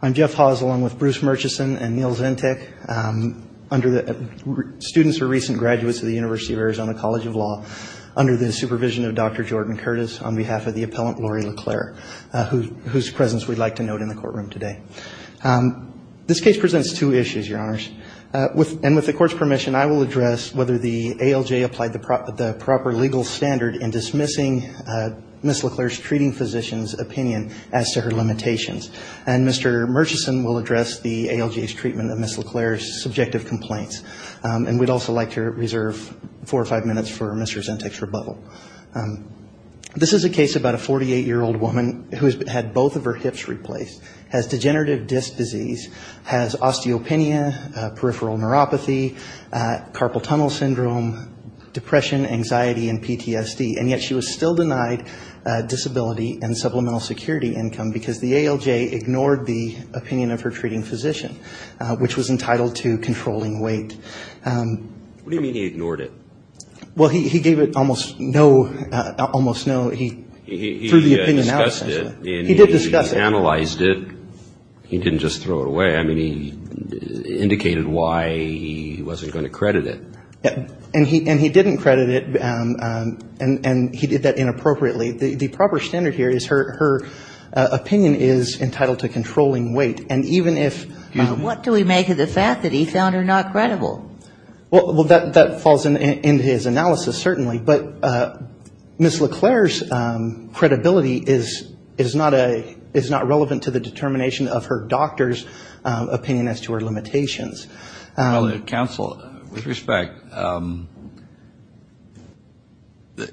I'm Jeff Hawes along with Bruce Murchison and Neal Zintek. Students are recent graduates of the University of Arizona College of Law under the supervision of Dr. Jordan Curtis on behalf of the appellant Laurie LeClair, whose presence we'd like to note in the courtroom today. This case presents two issues, Your Honors. And with the court's permission, I will address whether the ALJ applied the proper legal standard in dismissing Ms. LeClair's treating physician's opinion as to her limitations. And with that, I'll turn it over to Dr. Jordan Curtis. And Mr. Murchison will address the ALJ's treatment of Ms. LeClair's subjective complaints. And we'd also like to reserve four or five minutes for Mr. Zintek's rebuttal. This is a case about a 48-year-old woman who has had both of her hips replaced, has degenerative disc disease, has osteopenia, peripheral neuropathy, carpal tunnel syndrome, depression, anxiety, and PTSD. And yet she was still denied disability and supplemental security income because the ALJ ignored the opinion of her treating physician, which was entitled to controlling weight. What do you mean he ignored it? Well, he gave it almost no, almost no, he threw the opinion out essentially. He did discuss it. He analyzed it. He didn't just throw it away. I mean, he indicated why he wasn't going to credit it. And he didn't credit it, and he did that inappropriately. The proper standard here is her opinion is entitled to controlling weight. What do we make of the fact that he found her not credible? Well, that falls into his analysis, certainly. But Ms. LeClair's credibility is not relevant to the determination of her doctor's opinion as to her limitations. Well, counsel, with respect,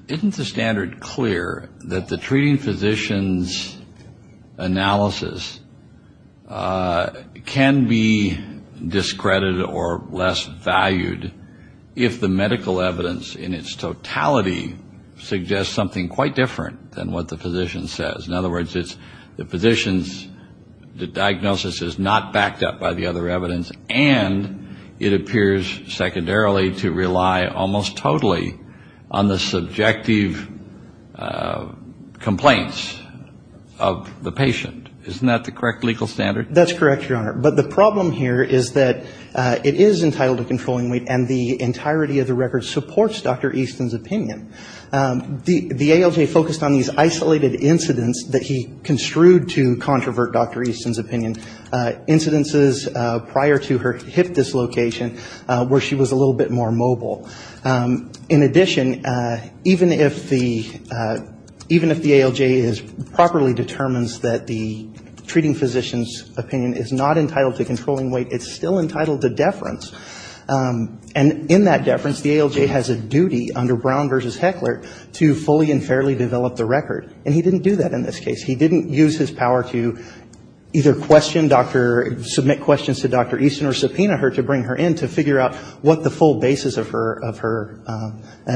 isn't the standard clear that the treating physician's analysis can be discredited or less valued if the medical evidence in its totality suggests something quite different than what the physician says? In other words, the physician's diagnosis is not backed up by the other evidence, and it appears secondarily to rely almost totally on the subjective complaints of the patient. Isn't that the correct legal standard? That's correct, Your Honor. But the problem here is that it is entitled to controlling weight, and the entirety of the record supports Dr. Easton's opinion. The ALJ focused on these isolated incidents that he construed to controvert Dr. Easton's opinion, incidences prior to her hip dislocation where she was a little bit more mobile. In addition, even if the ALJ properly determines that the treating physician's opinion is not entitled to controlling weight, it's still entitled to deference. And in that deference, the ALJ has a duty under Brown v. Heckler to fully and fairly develop the record, and he didn't do that in this case. He didn't use his power to either question Dr. or submit questions to Dr. Easton or subpoena her to bring her in to figure out what the full basis of her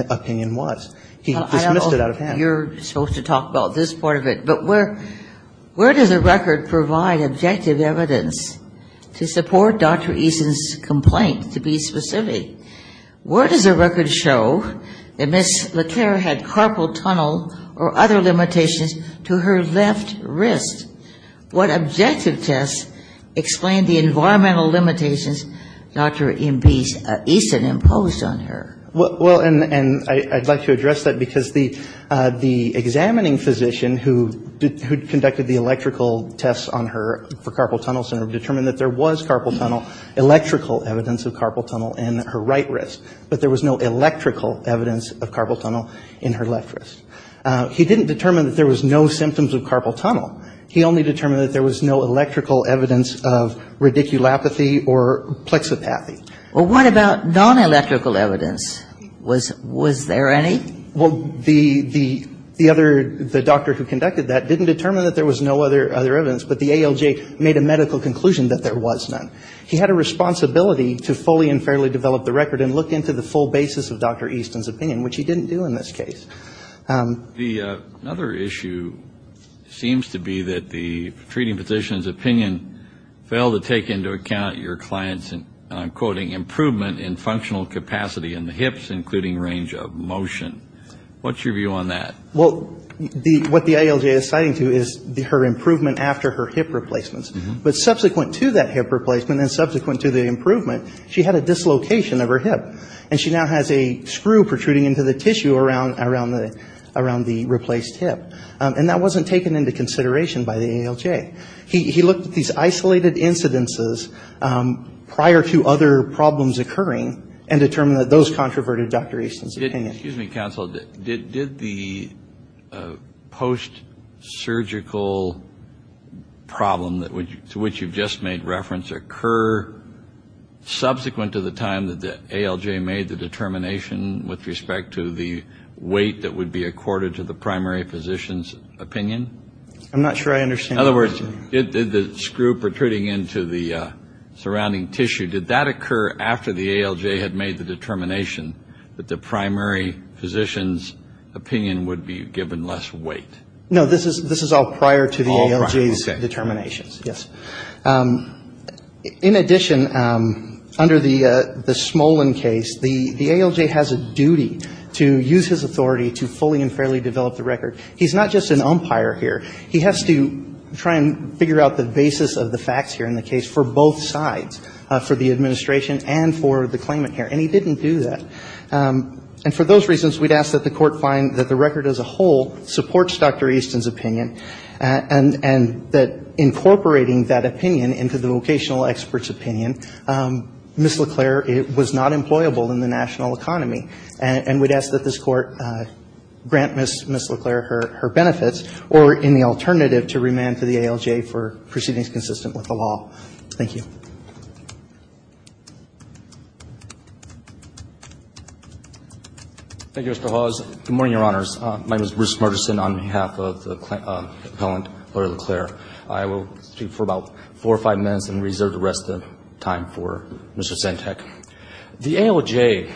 opinion was. He dismissed it out of hand. I'm not sure if you're supposed to talk about this part of it, but where does the record provide objective evidence to support Dr. Easton's complaint, to be specific? Where does the record show that Ms. LeClair had carpal tunnel or other limitations to her left wrist? What objective tests explain the environmental limitations Dr. Easton imposed on her? Well, and I'd like to address that, because the examining physician who conducted the electrical tests on her for carpal tunnel determined that there was carpal tunnel, electrical evidence of carpal tunnel in her right wrist. But there was no electrical evidence of carpal tunnel in her left wrist. He didn't determine that there was no symptoms of carpal tunnel. He only determined that there was no electrical evidence of radiculopathy or plexipathy. Was there any? Well, the doctor who conducted that didn't determine that there was no other evidence, but the ALJ made a medical conclusion that there was none. He had a responsibility to fully and fairly develop the record and look into the full basis of Dr. Easton's opinion, which he didn't do in this case. The other issue seems to be that the treating physician's opinion failed to take into account your client's, I'm quoting, improvement in functional capacity in the hips, including range of motion. What's your view on that? Well, what the ALJ is citing to is her improvement after her hip replacements. But subsequent to that hip replacement and subsequent to the improvement, she had a dislocation of her hip, and she now has a screw protruding into the tissue around the replaced hip. And that wasn't taken into consideration by the ALJ. He looked at these isolated incidences prior to other problems occurring and determined that those controverted Dr. Easton's opinion. Excuse me, counsel. Did the post-surgical problem to which you've just made reference occur subsequent to the time that the ALJ made the determination with respect to the weight that would be accorded to the primary physician's opinion? I'm not sure I understand what you're saying. In other words, did the screw protruding into the surrounding tissue, did that occur after the ALJ had made the determination that the primary physician's opinion would be given less weight? No, this is all prior to the ALJ's determinations, yes. In addition, under the Smolin case, the ALJ has a duty to use his authority to fully and fairly develop the record. He's not just an umpire here. He has to try and figure out the basis of the facts here in the case for both sides, for the administration and for the claimant here. And he didn't do that. And for those reasons, we'd ask that the Court find that the record as a whole supports Dr. Easton's opinion, and that incorporating that opinion into the vocational expert's opinion, Ms. LeClaire was not employable in the national economy. And we'd ask that this Court grant Ms. LeClaire her benefits or, in the alternative, to remand to the ALJ for proceedings consistent with the law. Thank you. Thank you, Mr. Hawes. Good morning, Your Honors. My name is Bruce Murchison on behalf of the appellant, Lawyer LeClaire. I will speak for about four or five minutes and reserve the rest of the time for Mr. Santek. The ALJ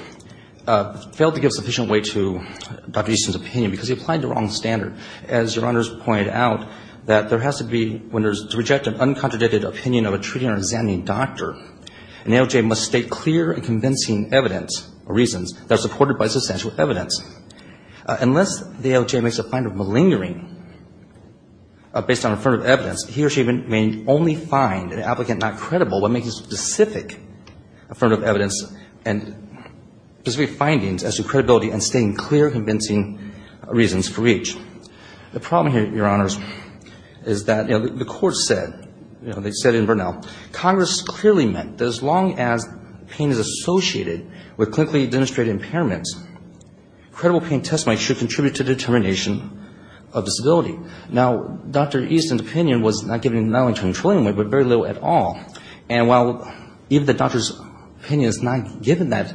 failed to give sufficient weight to Dr. Easton's opinion because he applied the wrong standard. As Your Honors pointed out, that there has to be, when there is to reject an uncontradicted opinion of a treating or examining doctor, an ALJ must state clear and convincing evidence or reasons that are supported by substantial evidence. Unless the ALJ makes a fine of malingering based on affirmative evidence, he or she may only find an applicant not credible when making specific affirmative evidence. And specific findings as to credibility and stating clear and convincing reasons for each. The problem here, Your Honors, is that, you know, the Court said, you know, they said in Burnell, Congress clearly meant that as long as pain is associated with clinically demonstrated impairments, credible pain testimony should contribute to determination of disability. Now, Dr. Easton's opinion was not given not only to a controlling weight but very little at all. And while even the doctor's opinion is not given that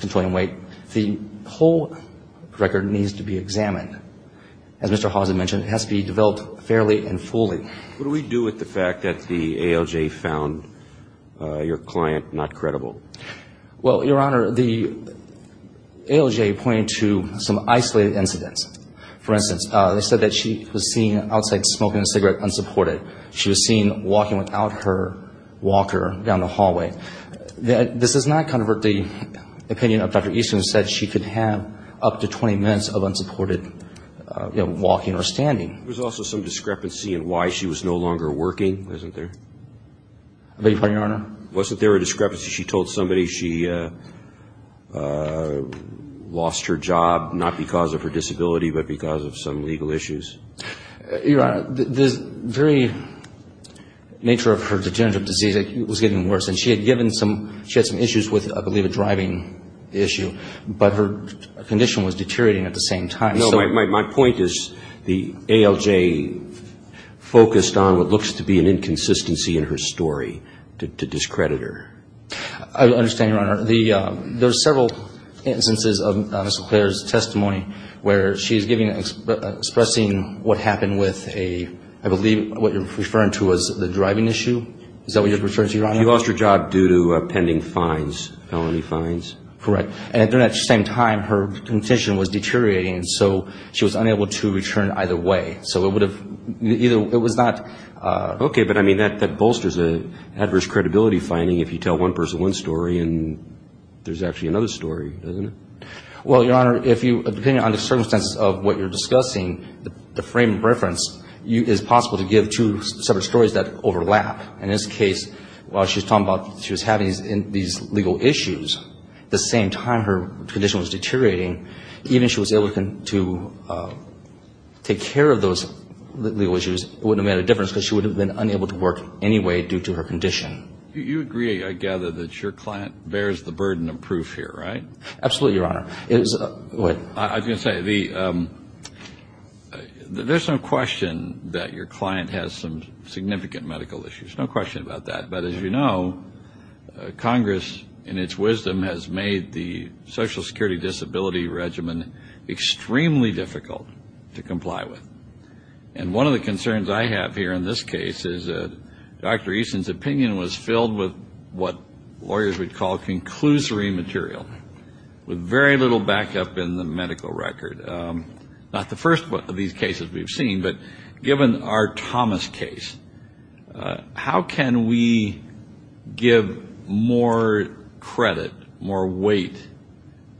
controlling weight, the whole record needs to be examined. As Mr. Hawson mentioned, it has to be developed fairly and fully. What do we do with the fact that the ALJ found your client not credible? Well, Your Honor, the ALJ pointed to some isolated incidents. For instance, they said that she was seen outside smoking a cigarette unsupported. She was seen walking without her walker down the hallway. This does not controvert the opinion of Dr. Easton who said she could have up to 20 minutes of unsupported, you know, walking or standing. There was also some discrepancy in why she was no longer working, wasn't there? I beg your pardon, Your Honor? Wasn't there a discrepancy? She told somebody she lost her job not because of her disability but because of some legal issues? Your Honor, the very nature of her degenerative disease, it was getting worse. And she had given some issues with, I believe, a driving issue. But her condition was deteriorating at the same time. No, my point is the ALJ focused on what looks to be an inconsistency in her story to discredit her. I understand, Your Honor. Your Honor, there are several instances of Ms. LeClair's testimony where she is giving and expressing what happened with a, I believe what you're referring to as the driving issue. Is that what you're referring to, Your Honor? She lost her job due to pending fines, felony fines. Correct. And at the same time, her condition was deteriorating, so she was unable to return either way. So it would have, it was not. Okay. But, I mean, that bolsters an adverse credibility finding if you tell one person one story and there's actually another story, doesn't it? Well, Your Honor, if you, depending on the circumstances of what you're discussing, the frame of reference is possible to give two separate stories that overlap. In this case, while she was talking about she was having these legal issues, the same time her condition was deteriorating, even if she was able to take care of those legal issues, it wouldn't have made a difference because she would have been unable to work anyway due to her condition. You agree, I gather, that your client bears the burden of proof here, right? Absolutely, Your Honor. Go ahead. I was going to say, there's no question that your client has some significant medical issues, no question about that. But as you know, Congress, in its wisdom, has made the Social Security Disability Regimen extremely difficult to comply with. And one of the concerns I have here in this case is that Dr. Easton's opinion was filled with what lawyers would call conclusory material with very little backup in the medical record. Not the first of these cases we've seen, but given our Thomas case, how can we give more credit, more weight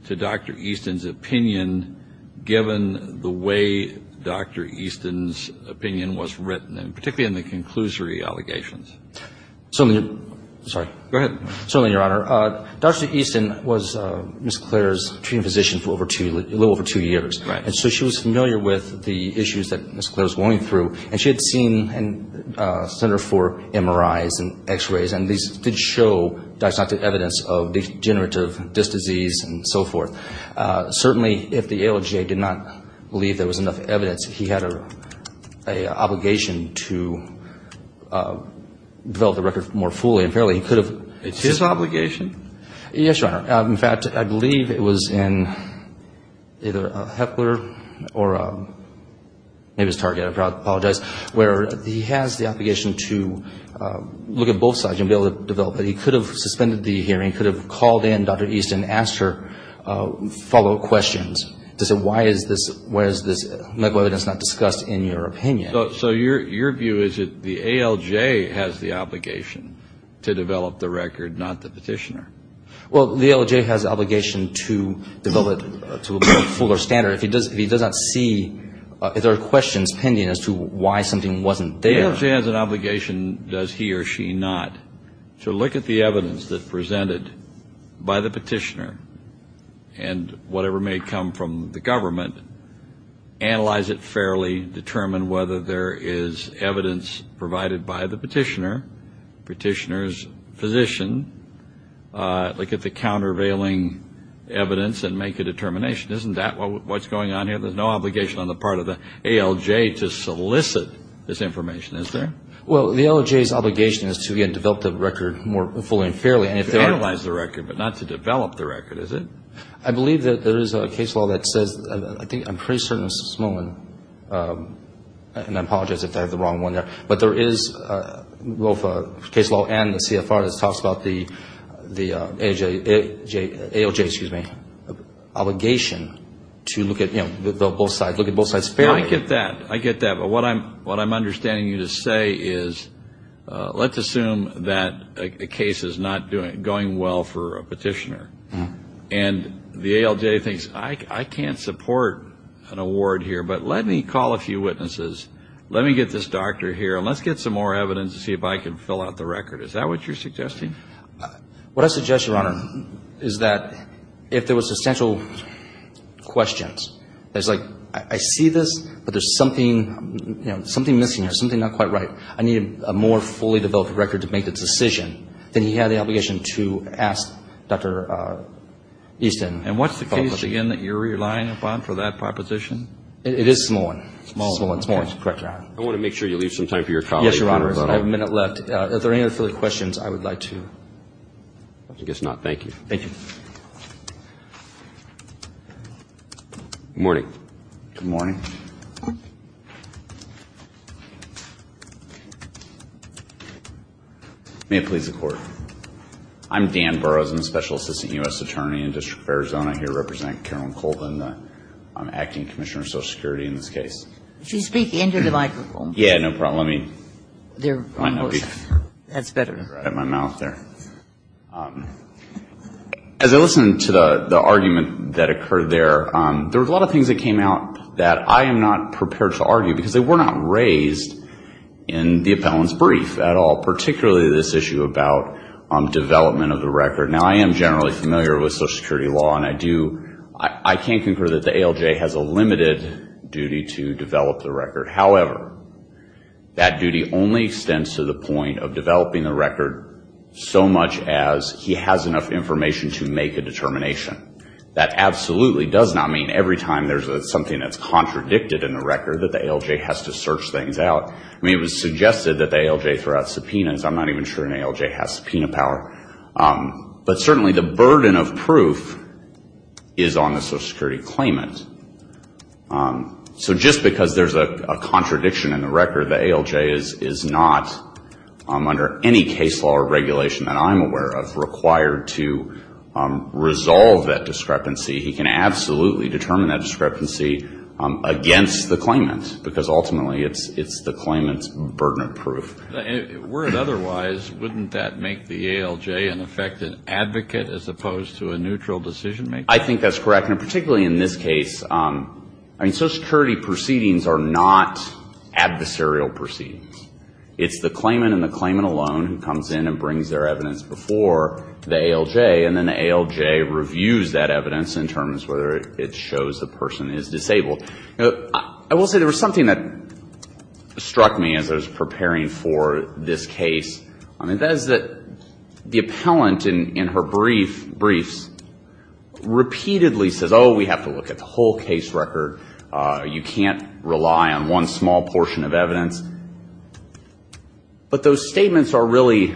to Dr. Easton's opinion, given the way Dr. Easton's opinion was written, particularly in the conclusory allegations? Certainly, Your Honor, Dr. Easton was Ms. Clair's treating physician for a little over two years. Right. And so she was familiar with the issues that Ms. Clair was going through. And she had seen a center for MRIs and X-rays, and these did show diagnostic evidence of degenerative disc disease and so forth. Certainly, if the ALGA did not believe there was enough evidence, he had an obligation to develop the record more fully. Apparently, he could have. It's his obligation? Yes, Your Honor. In fact, I believe it was in either Hepler or maybe it was Target, I apologize, where he has the obligation to look at both sides and be able to develop it. He could have suspended the hearing, could have called in Dr. Easton, asked her follow-up questions to say why is this medical evidence not discussed in your opinion. So your view is that the ALJ has the obligation to develop the record, not the petitioner? Well, the ALJ has the obligation to develop it to a fuller standard. If he does not see if there are questions pending as to why something wasn't there. The ALJ has an obligation, does he or she not, to look at the evidence that's presented by the petitioner and whatever may come from the government, analyze it fairly, determine whether there is evidence provided by the petitioner, petitioner's physician, look at the countervailing evidence and make a determination. Isn't that what's going on here? There's no obligation on the part of the ALJ to solicit this information, is there? Well, the ALJ's obligation is to, again, develop the record more fully and fairly. Analyze the record, but not to develop the record, is it? I believe that there is a case law that says, I think I'm pretty certain it's Smolin, and I apologize if I have the wrong one there. But there is both a case law and the CFR that talks about the ALJ's obligation to look at both sides fairly. I get that. I get that. But what I'm understanding you to say is let's assume that a case is not going well for a petitioner, and the ALJ thinks, I can't support an award here, but let me call a few witnesses. Let me get this doctor here, and let's get some more evidence to see if I can fill out the record. Is that what you're suggesting? What I suggest, Your Honor, is that if there were substantial questions, it's like I see this, but there's something missing here, something not quite right. I need a more fully developed record to make the decision. Then you have the obligation to ask Dr. Easton. And what's the case, again, that you're relying upon for that proposition? It is Smolin. Smolin. I want to make sure you leave some time for your colleague. Yes, Your Honor. I have a minute left. If there are any other questions, I would like to. I guess not. Thank you. Thank you. Good morning. Good morning. May it please the Court. I'm Dan Burrows. I'm a special assistant U.S. attorney in the District of Arizona. I'm here to represent Carolyn Colvin, the acting commissioner of Social Security in this case. Could you speak into the microphone? Yeah, no problem. Let me. That's better. As I listen to the argument that occurred there, there were a lot of things that came out that I am not prepared to argue because they were not raised in the appellant's brief at all, particularly this issue about development of the record. Now, I am generally familiar with Social Security law, and I can't concur that the ALJ has a limited duty to develop the record. However, that duty only extends to the point of developing the record so much as he has enough information to make a determination. That absolutely does not mean every time there's something that's contradicted in the record that the ALJ has to search things out. I mean, it was suggested that the ALJ throw out subpoenas. I'm not even sure an ALJ has subpoena power. But certainly the burden of proof is on the Social Security claimant. So just because there's a contradiction in the record, the ALJ is not, under any case law or regulation that I'm aware of, required to resolve that discrepancy. He can absolutely determine that discrepancy against the claimant because ultimately it's the claimant's burden of proof. And were it otherwise, wouldn't that make the ALJ an effective advocate as opposed to a neutral decision-maker? I think that's correct. And particularly in this case, I mean, Social Security proceedings are not adversarial proceedings. It's the claimant and the claimant alone who comes in and brings their evidence before the ALJ, and then the ALJ reviews that evidence in terms of whether it shows the person is disabled. I will say there was something that struck me as I was preparing for this case. I mean, that is that the appellant in her briefs repeatedly says, oh, we have to look at the whole case record. You can't rely on one small portion of evidence. But those statements are really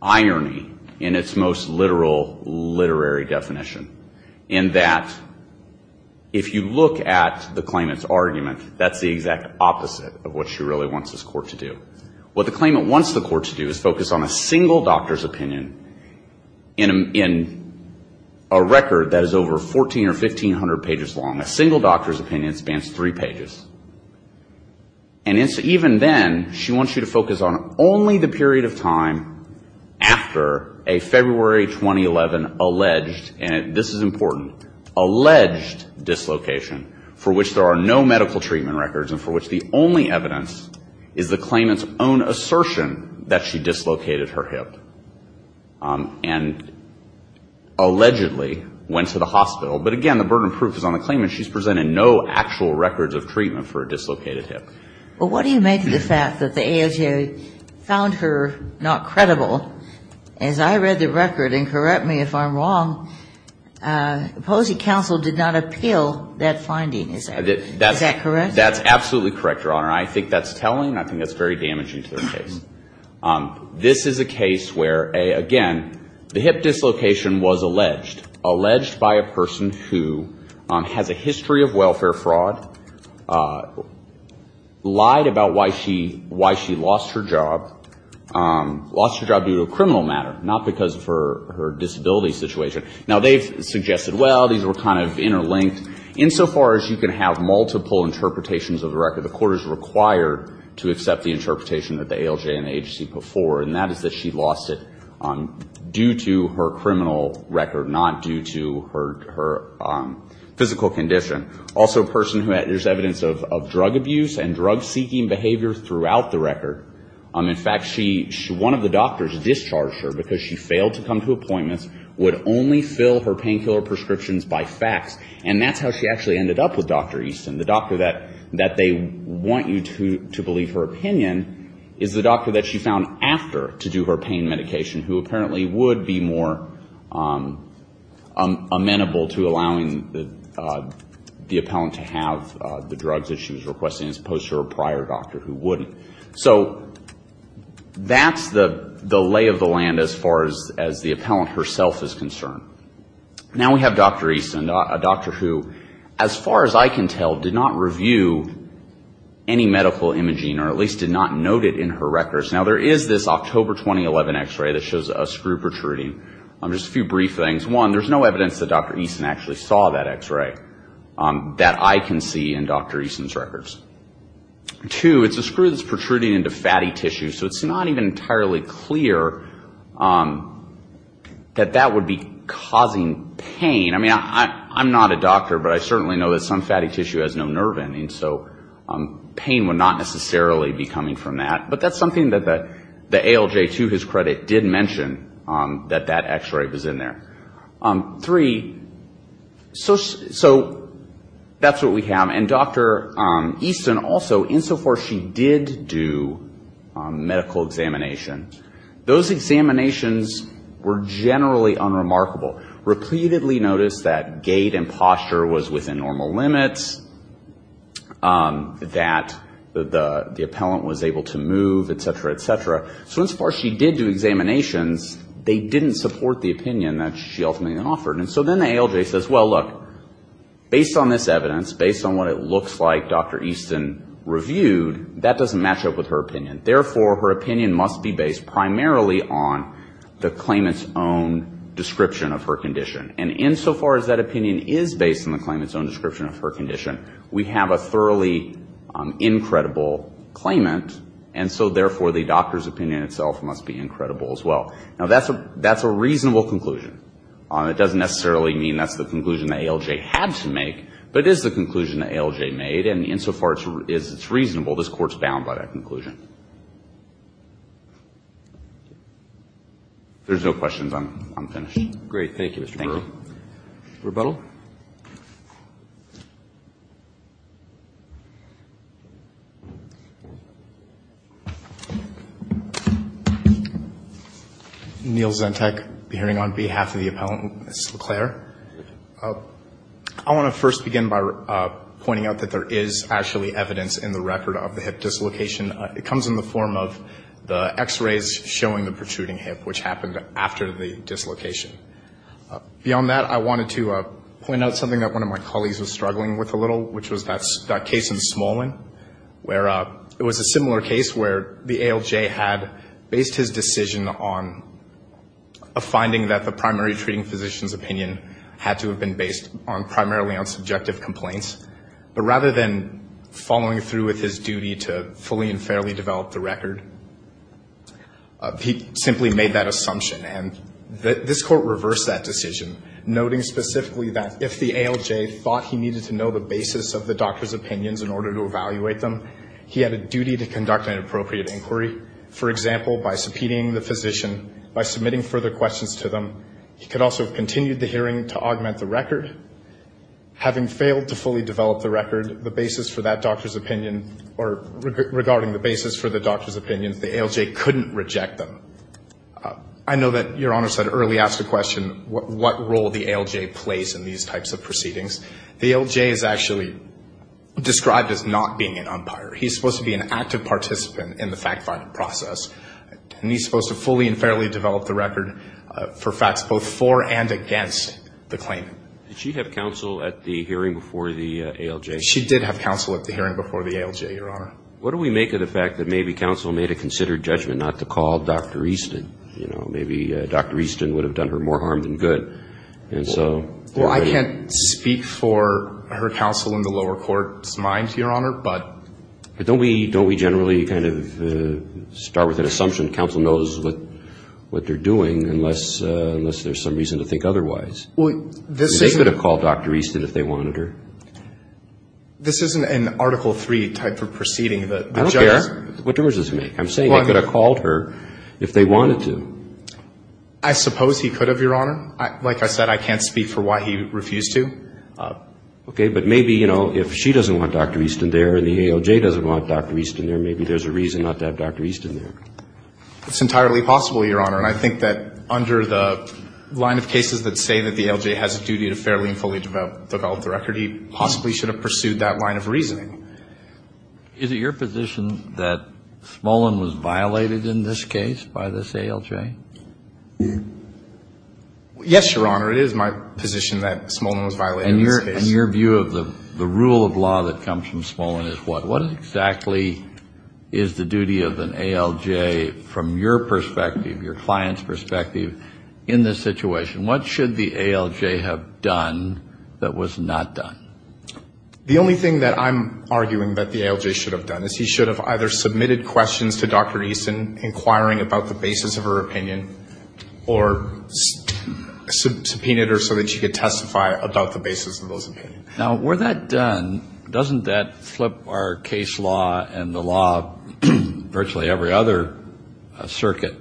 irony in its most literal literary definition, in that if you look at the claimant's argument, that's the exact opposite of what she really wants this court to do. What the claimant wants the court to do is focus on a single doctor's opinion in a record that is over 1,400 or 1,500 pages long. A single doctor's opinion spans three pages. And even then, she wants you to focus on only the period of time after a February 2011 alleged, and this is important, alleged dislocation for which there are no medical treatment records and for which the only evidence is the claimant's own assertion that she dislocated her hip and allegedly went to the hospital. But again, the burden of proof is on the claimant. She's presented no actual records of treatment for a dislocated hip. Well, what do you make of the fact that the AOJ found her not credible? As I read the record, and correct me if I'm wrong, opposing counsel did not appeal that finding. Is that correct? That's absolutely correct, Your Honor. I think that's telling. I think that's very damaging to the case. This is a case where, again, the hip dislocation was alleged, alleged by a person who has a history of welfare fraud, lied about why she lost her job, lost her job due to a criminal matter, not because of her disability situation. Now, they've suggested, well, these were kind of interlinked. Insofar as you can have multiple interpretations of the record, the court is required to accept the interpretation that the AOJ and the agency put forward, and that is that she lost it due to her criminal record, not due to her physical condition. Also, a person who has evidence of drug abuse and drug-seeking behavior throughout the record. In fact, one of the doctors discharged her because she failed to come to appointments, would only fill her painkiller prescriptions by fax, and that's how she actually ended up with Dr. Easton, the doctor that they want you to believe her opinion is the doctor that she found after to do her pain medication, who apparently would be more amenable to allowing the appellant to have the drugs that she was requesting, as opposed to her prior doctor who wouldn't. So that's the lay of the land as far as the appellant herself is concerned. Now we have Dr. Easton, a doctor who, as far as I can tell, did not review any medical imaging, or at least did not note it in her records. Now, there is this October 2011 x-ray that shows a screw protruding. Just a few brief things. One, there's no evidence that Dr. Easton actually saw that x-ray that I can see in Dr. Easton's records. Two, it's a screw that's protruding into fatty tissue, so it's not even entirely clear that that would be causing pain. I mean, I'm not a doctor, but I certainly know that some fatty tissue has no nerve endings, so pain would not necessarily be coming from that. But that's something that the ALJ, to his credit, did mention, that that x-ray was in there. Three, so that's what we have. And Dr. Easton also, insofar as she did do medical examination, those examinations were generally unremarkable. Repeatedly noticed that gait and posture was within normal limits, that the appellant was able to move, et cetera, et cetera. So insofar as she did do examinations, they didn't support the opinion that she ultimately offered. And so then the ALJ says, well, look, based on this evidence, based on what it looks like Dr. Easton reviewed, that doesn't match up with her opinion. Therefore, her opinion must be based primarily on the claimant's own description of her condition. And insofar as that opinion is based on the claimant's own description of her condition, we have a thoroughly incredible claimant, and so therefore the doctor's opinion itself must be incredible as well. Now, that's a reasonable conclusion. It doesn't necessarily mean that's the conclusion that ALJ had to make, but it is the conclusion that ALJ made, and insofar as it's reasonable, this Court's bound by that conclusion. If there's no questions, I'm finished. Roberts. Great. Thank you, Mr. Burr. Thank you. Rebuttal. Neal Zentech, be hearing on behalf of the appellant, Ms. LeClaire. I want to first begin by pointing out that there is actually evidence in the record of the hip dislocation. It comes in the form of the X-rays showing the protruding hip, which happened after the dislocation. Beyond that, I wanted to point out something that one of my colleagues was struggling with a little, which was that case in Smolin, where it was a similar case where the ALJ had based his decision on a finding that the primary treating physician's opinion had to have been based primarily on subjective complaints, but rather than following through with his duty to fully and fairly develop the record, he simply made that assumption, and this Court reversed that decision, noting specifically that if the ALJ thought he needed to know the basis of the doctor's opinions in order to evaluate them, he had a duty to conduct an appropriate inquiry. For example, by subpoenaing the physician, by submitting further questions to them, he could also have continued the hearing to augment the record. Having failed to fully develop the record, the basis for that doctor's opinion, or regarding the basis for the doctor's opinion, the ALJ couldn't reject them. I know that Your Honor said early, ask a question, what role the ALJ plays in these types of proceedings. The ALJ is actually described as not being an umpire. He's supposed to be an active participant in the fact-finding process, and he's supposed to fully and fairly develop the record for facts both for and against the claimant. Did she have counsel at the hearing before the ALJ? She did have counsel at the hearing before the ALJ, Your Honor. What do we make of the fact that maybe counsel made a considered judgment not to call Dr. Easton? You know, maybe Dr. Easton would have done her more harm than good. Well, I can't speak for her counsel in the lower court's mind, Your Honor, but. Don't we generally kind of start with an assumption that counsel knows what they're doing, unless there's some reason to think otherwise? Well, this isn't. They could have called Dr. Easton if they wanted her. This isn't an Article III type of proceeding. I don't care. What difference does it make? I'm saying they could have called her if they wanted to. I suppose he could have, Your Honor. Like I said, I can't speak for why he refused to. Okay. But maybe, you know, if she doesn't want Dr. Easton there and the ALJ doesn't want Dr. Easton there, maybe there's a reason not to have Dr. Easton there. It's entirely possible, Your Honor, and I think that under the line of cases that say that the ALJ has a duty to fairly and fully develop the record, he possibly should have pursued that line of reasoning. Is it your position that Smolin was violated in this case by this ALJ? Yes, Your Honor, it is my position that Smolin was violated in this case. And your view of the rule of law that comes from Smolin is what? What exactly is the duty of an ALJ from your perspective, your client's perspective, in this situation? What should the ALJ have done that was not done? The only thing that I'm arguing that the ALJ should have done is he should have either submitted questions to Dr. Easton's opinion or subpoenaed her so that she could testify about the basis of those opinions. Now, were that done, doesn't that flip our case law and the law of virtually every other circuit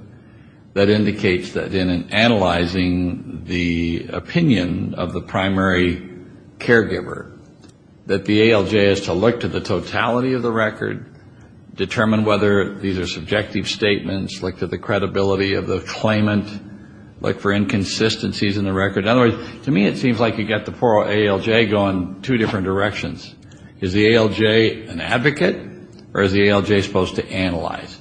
that indicates that in analyzing the opinion of the primary caregiver, that the ALJ has to look to the totality of the record, determine whether these are subjective statements, look to the credibility of the claimant, look for inconsistencies in the record. In other words, to me it seems like you've got the poor ALJ going two different directions. Is the ALJ an advocate or is the ALJ supposed to analyze?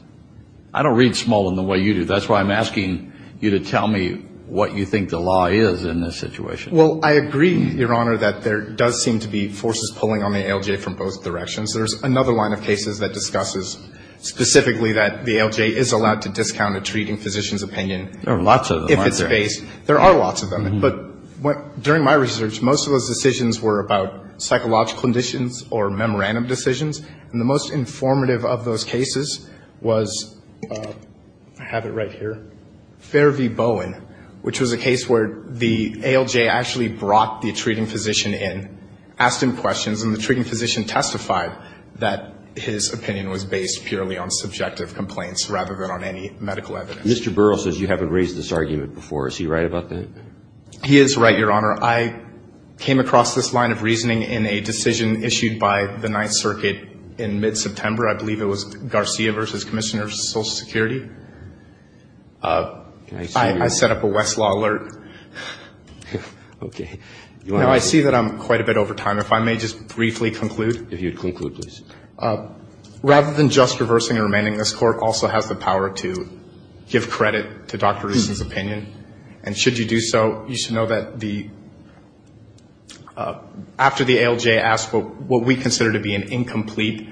I don't read Smolin the way you do. That's why I'm asking you to tell me what you think the law is in this situation. Well, I agree, Your Honor, that there does seem to be forces pulling on the ALJ from both directions. There's another line of cases that discusses specifically that the ALJ is allowed to discount a treating physician's opinion. There are lots of them, aren't there? If it's based. There are lots of them. But during my research, most of those decisions were about psychological conditions or memorandum decisions. And the most informative of those cases was, I have it right here, Fair v. Bowen, which was a case where the ALJ actually brought the treating physician in, asked him questions, and the treating physician testified that his opinion was based purely on subjective complaints rather than on any medical evidence. Mr. Burrell says you haven't raised this argument before. Is he right about that? He is right, Your Honor. I came across this line of reasoning in a decision issued by the Ninth Circuit in mid-September. I believe it was Garcia v. Commissioner of Social Security. I set up a Westlaw alert. Okay. Now, I see that I'm quite a bit over time. If I may just briefly conclude. If you'd conclude, please. Rather than just reversing and remaining, this court also has the power to give credit to Dr. Rusin's opinion. And should you do so, you should know that after the ALJ asked what we consider to be an incomplete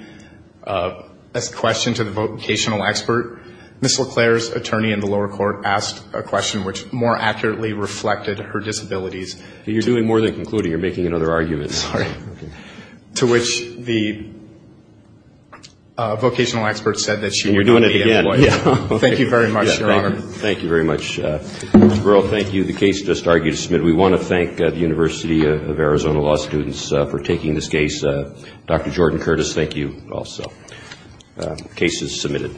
question to the vocational expert, Ms. LeClaire's attorney in the lower court asked a question which more accurately reflected her disabilities. You're doing more than concluding. You're making another argument. Sorry. To which the vocational expert said that she would not be employed. And you're doing it again. Thank you very much, Your Honor. Thank you very much. Mr. Burrell, thank you. The case just argued is submitted. We want to thank the University of Arizona Law students for taking this case. Dr. Jordan Curtis, thank you also. The case is submitted.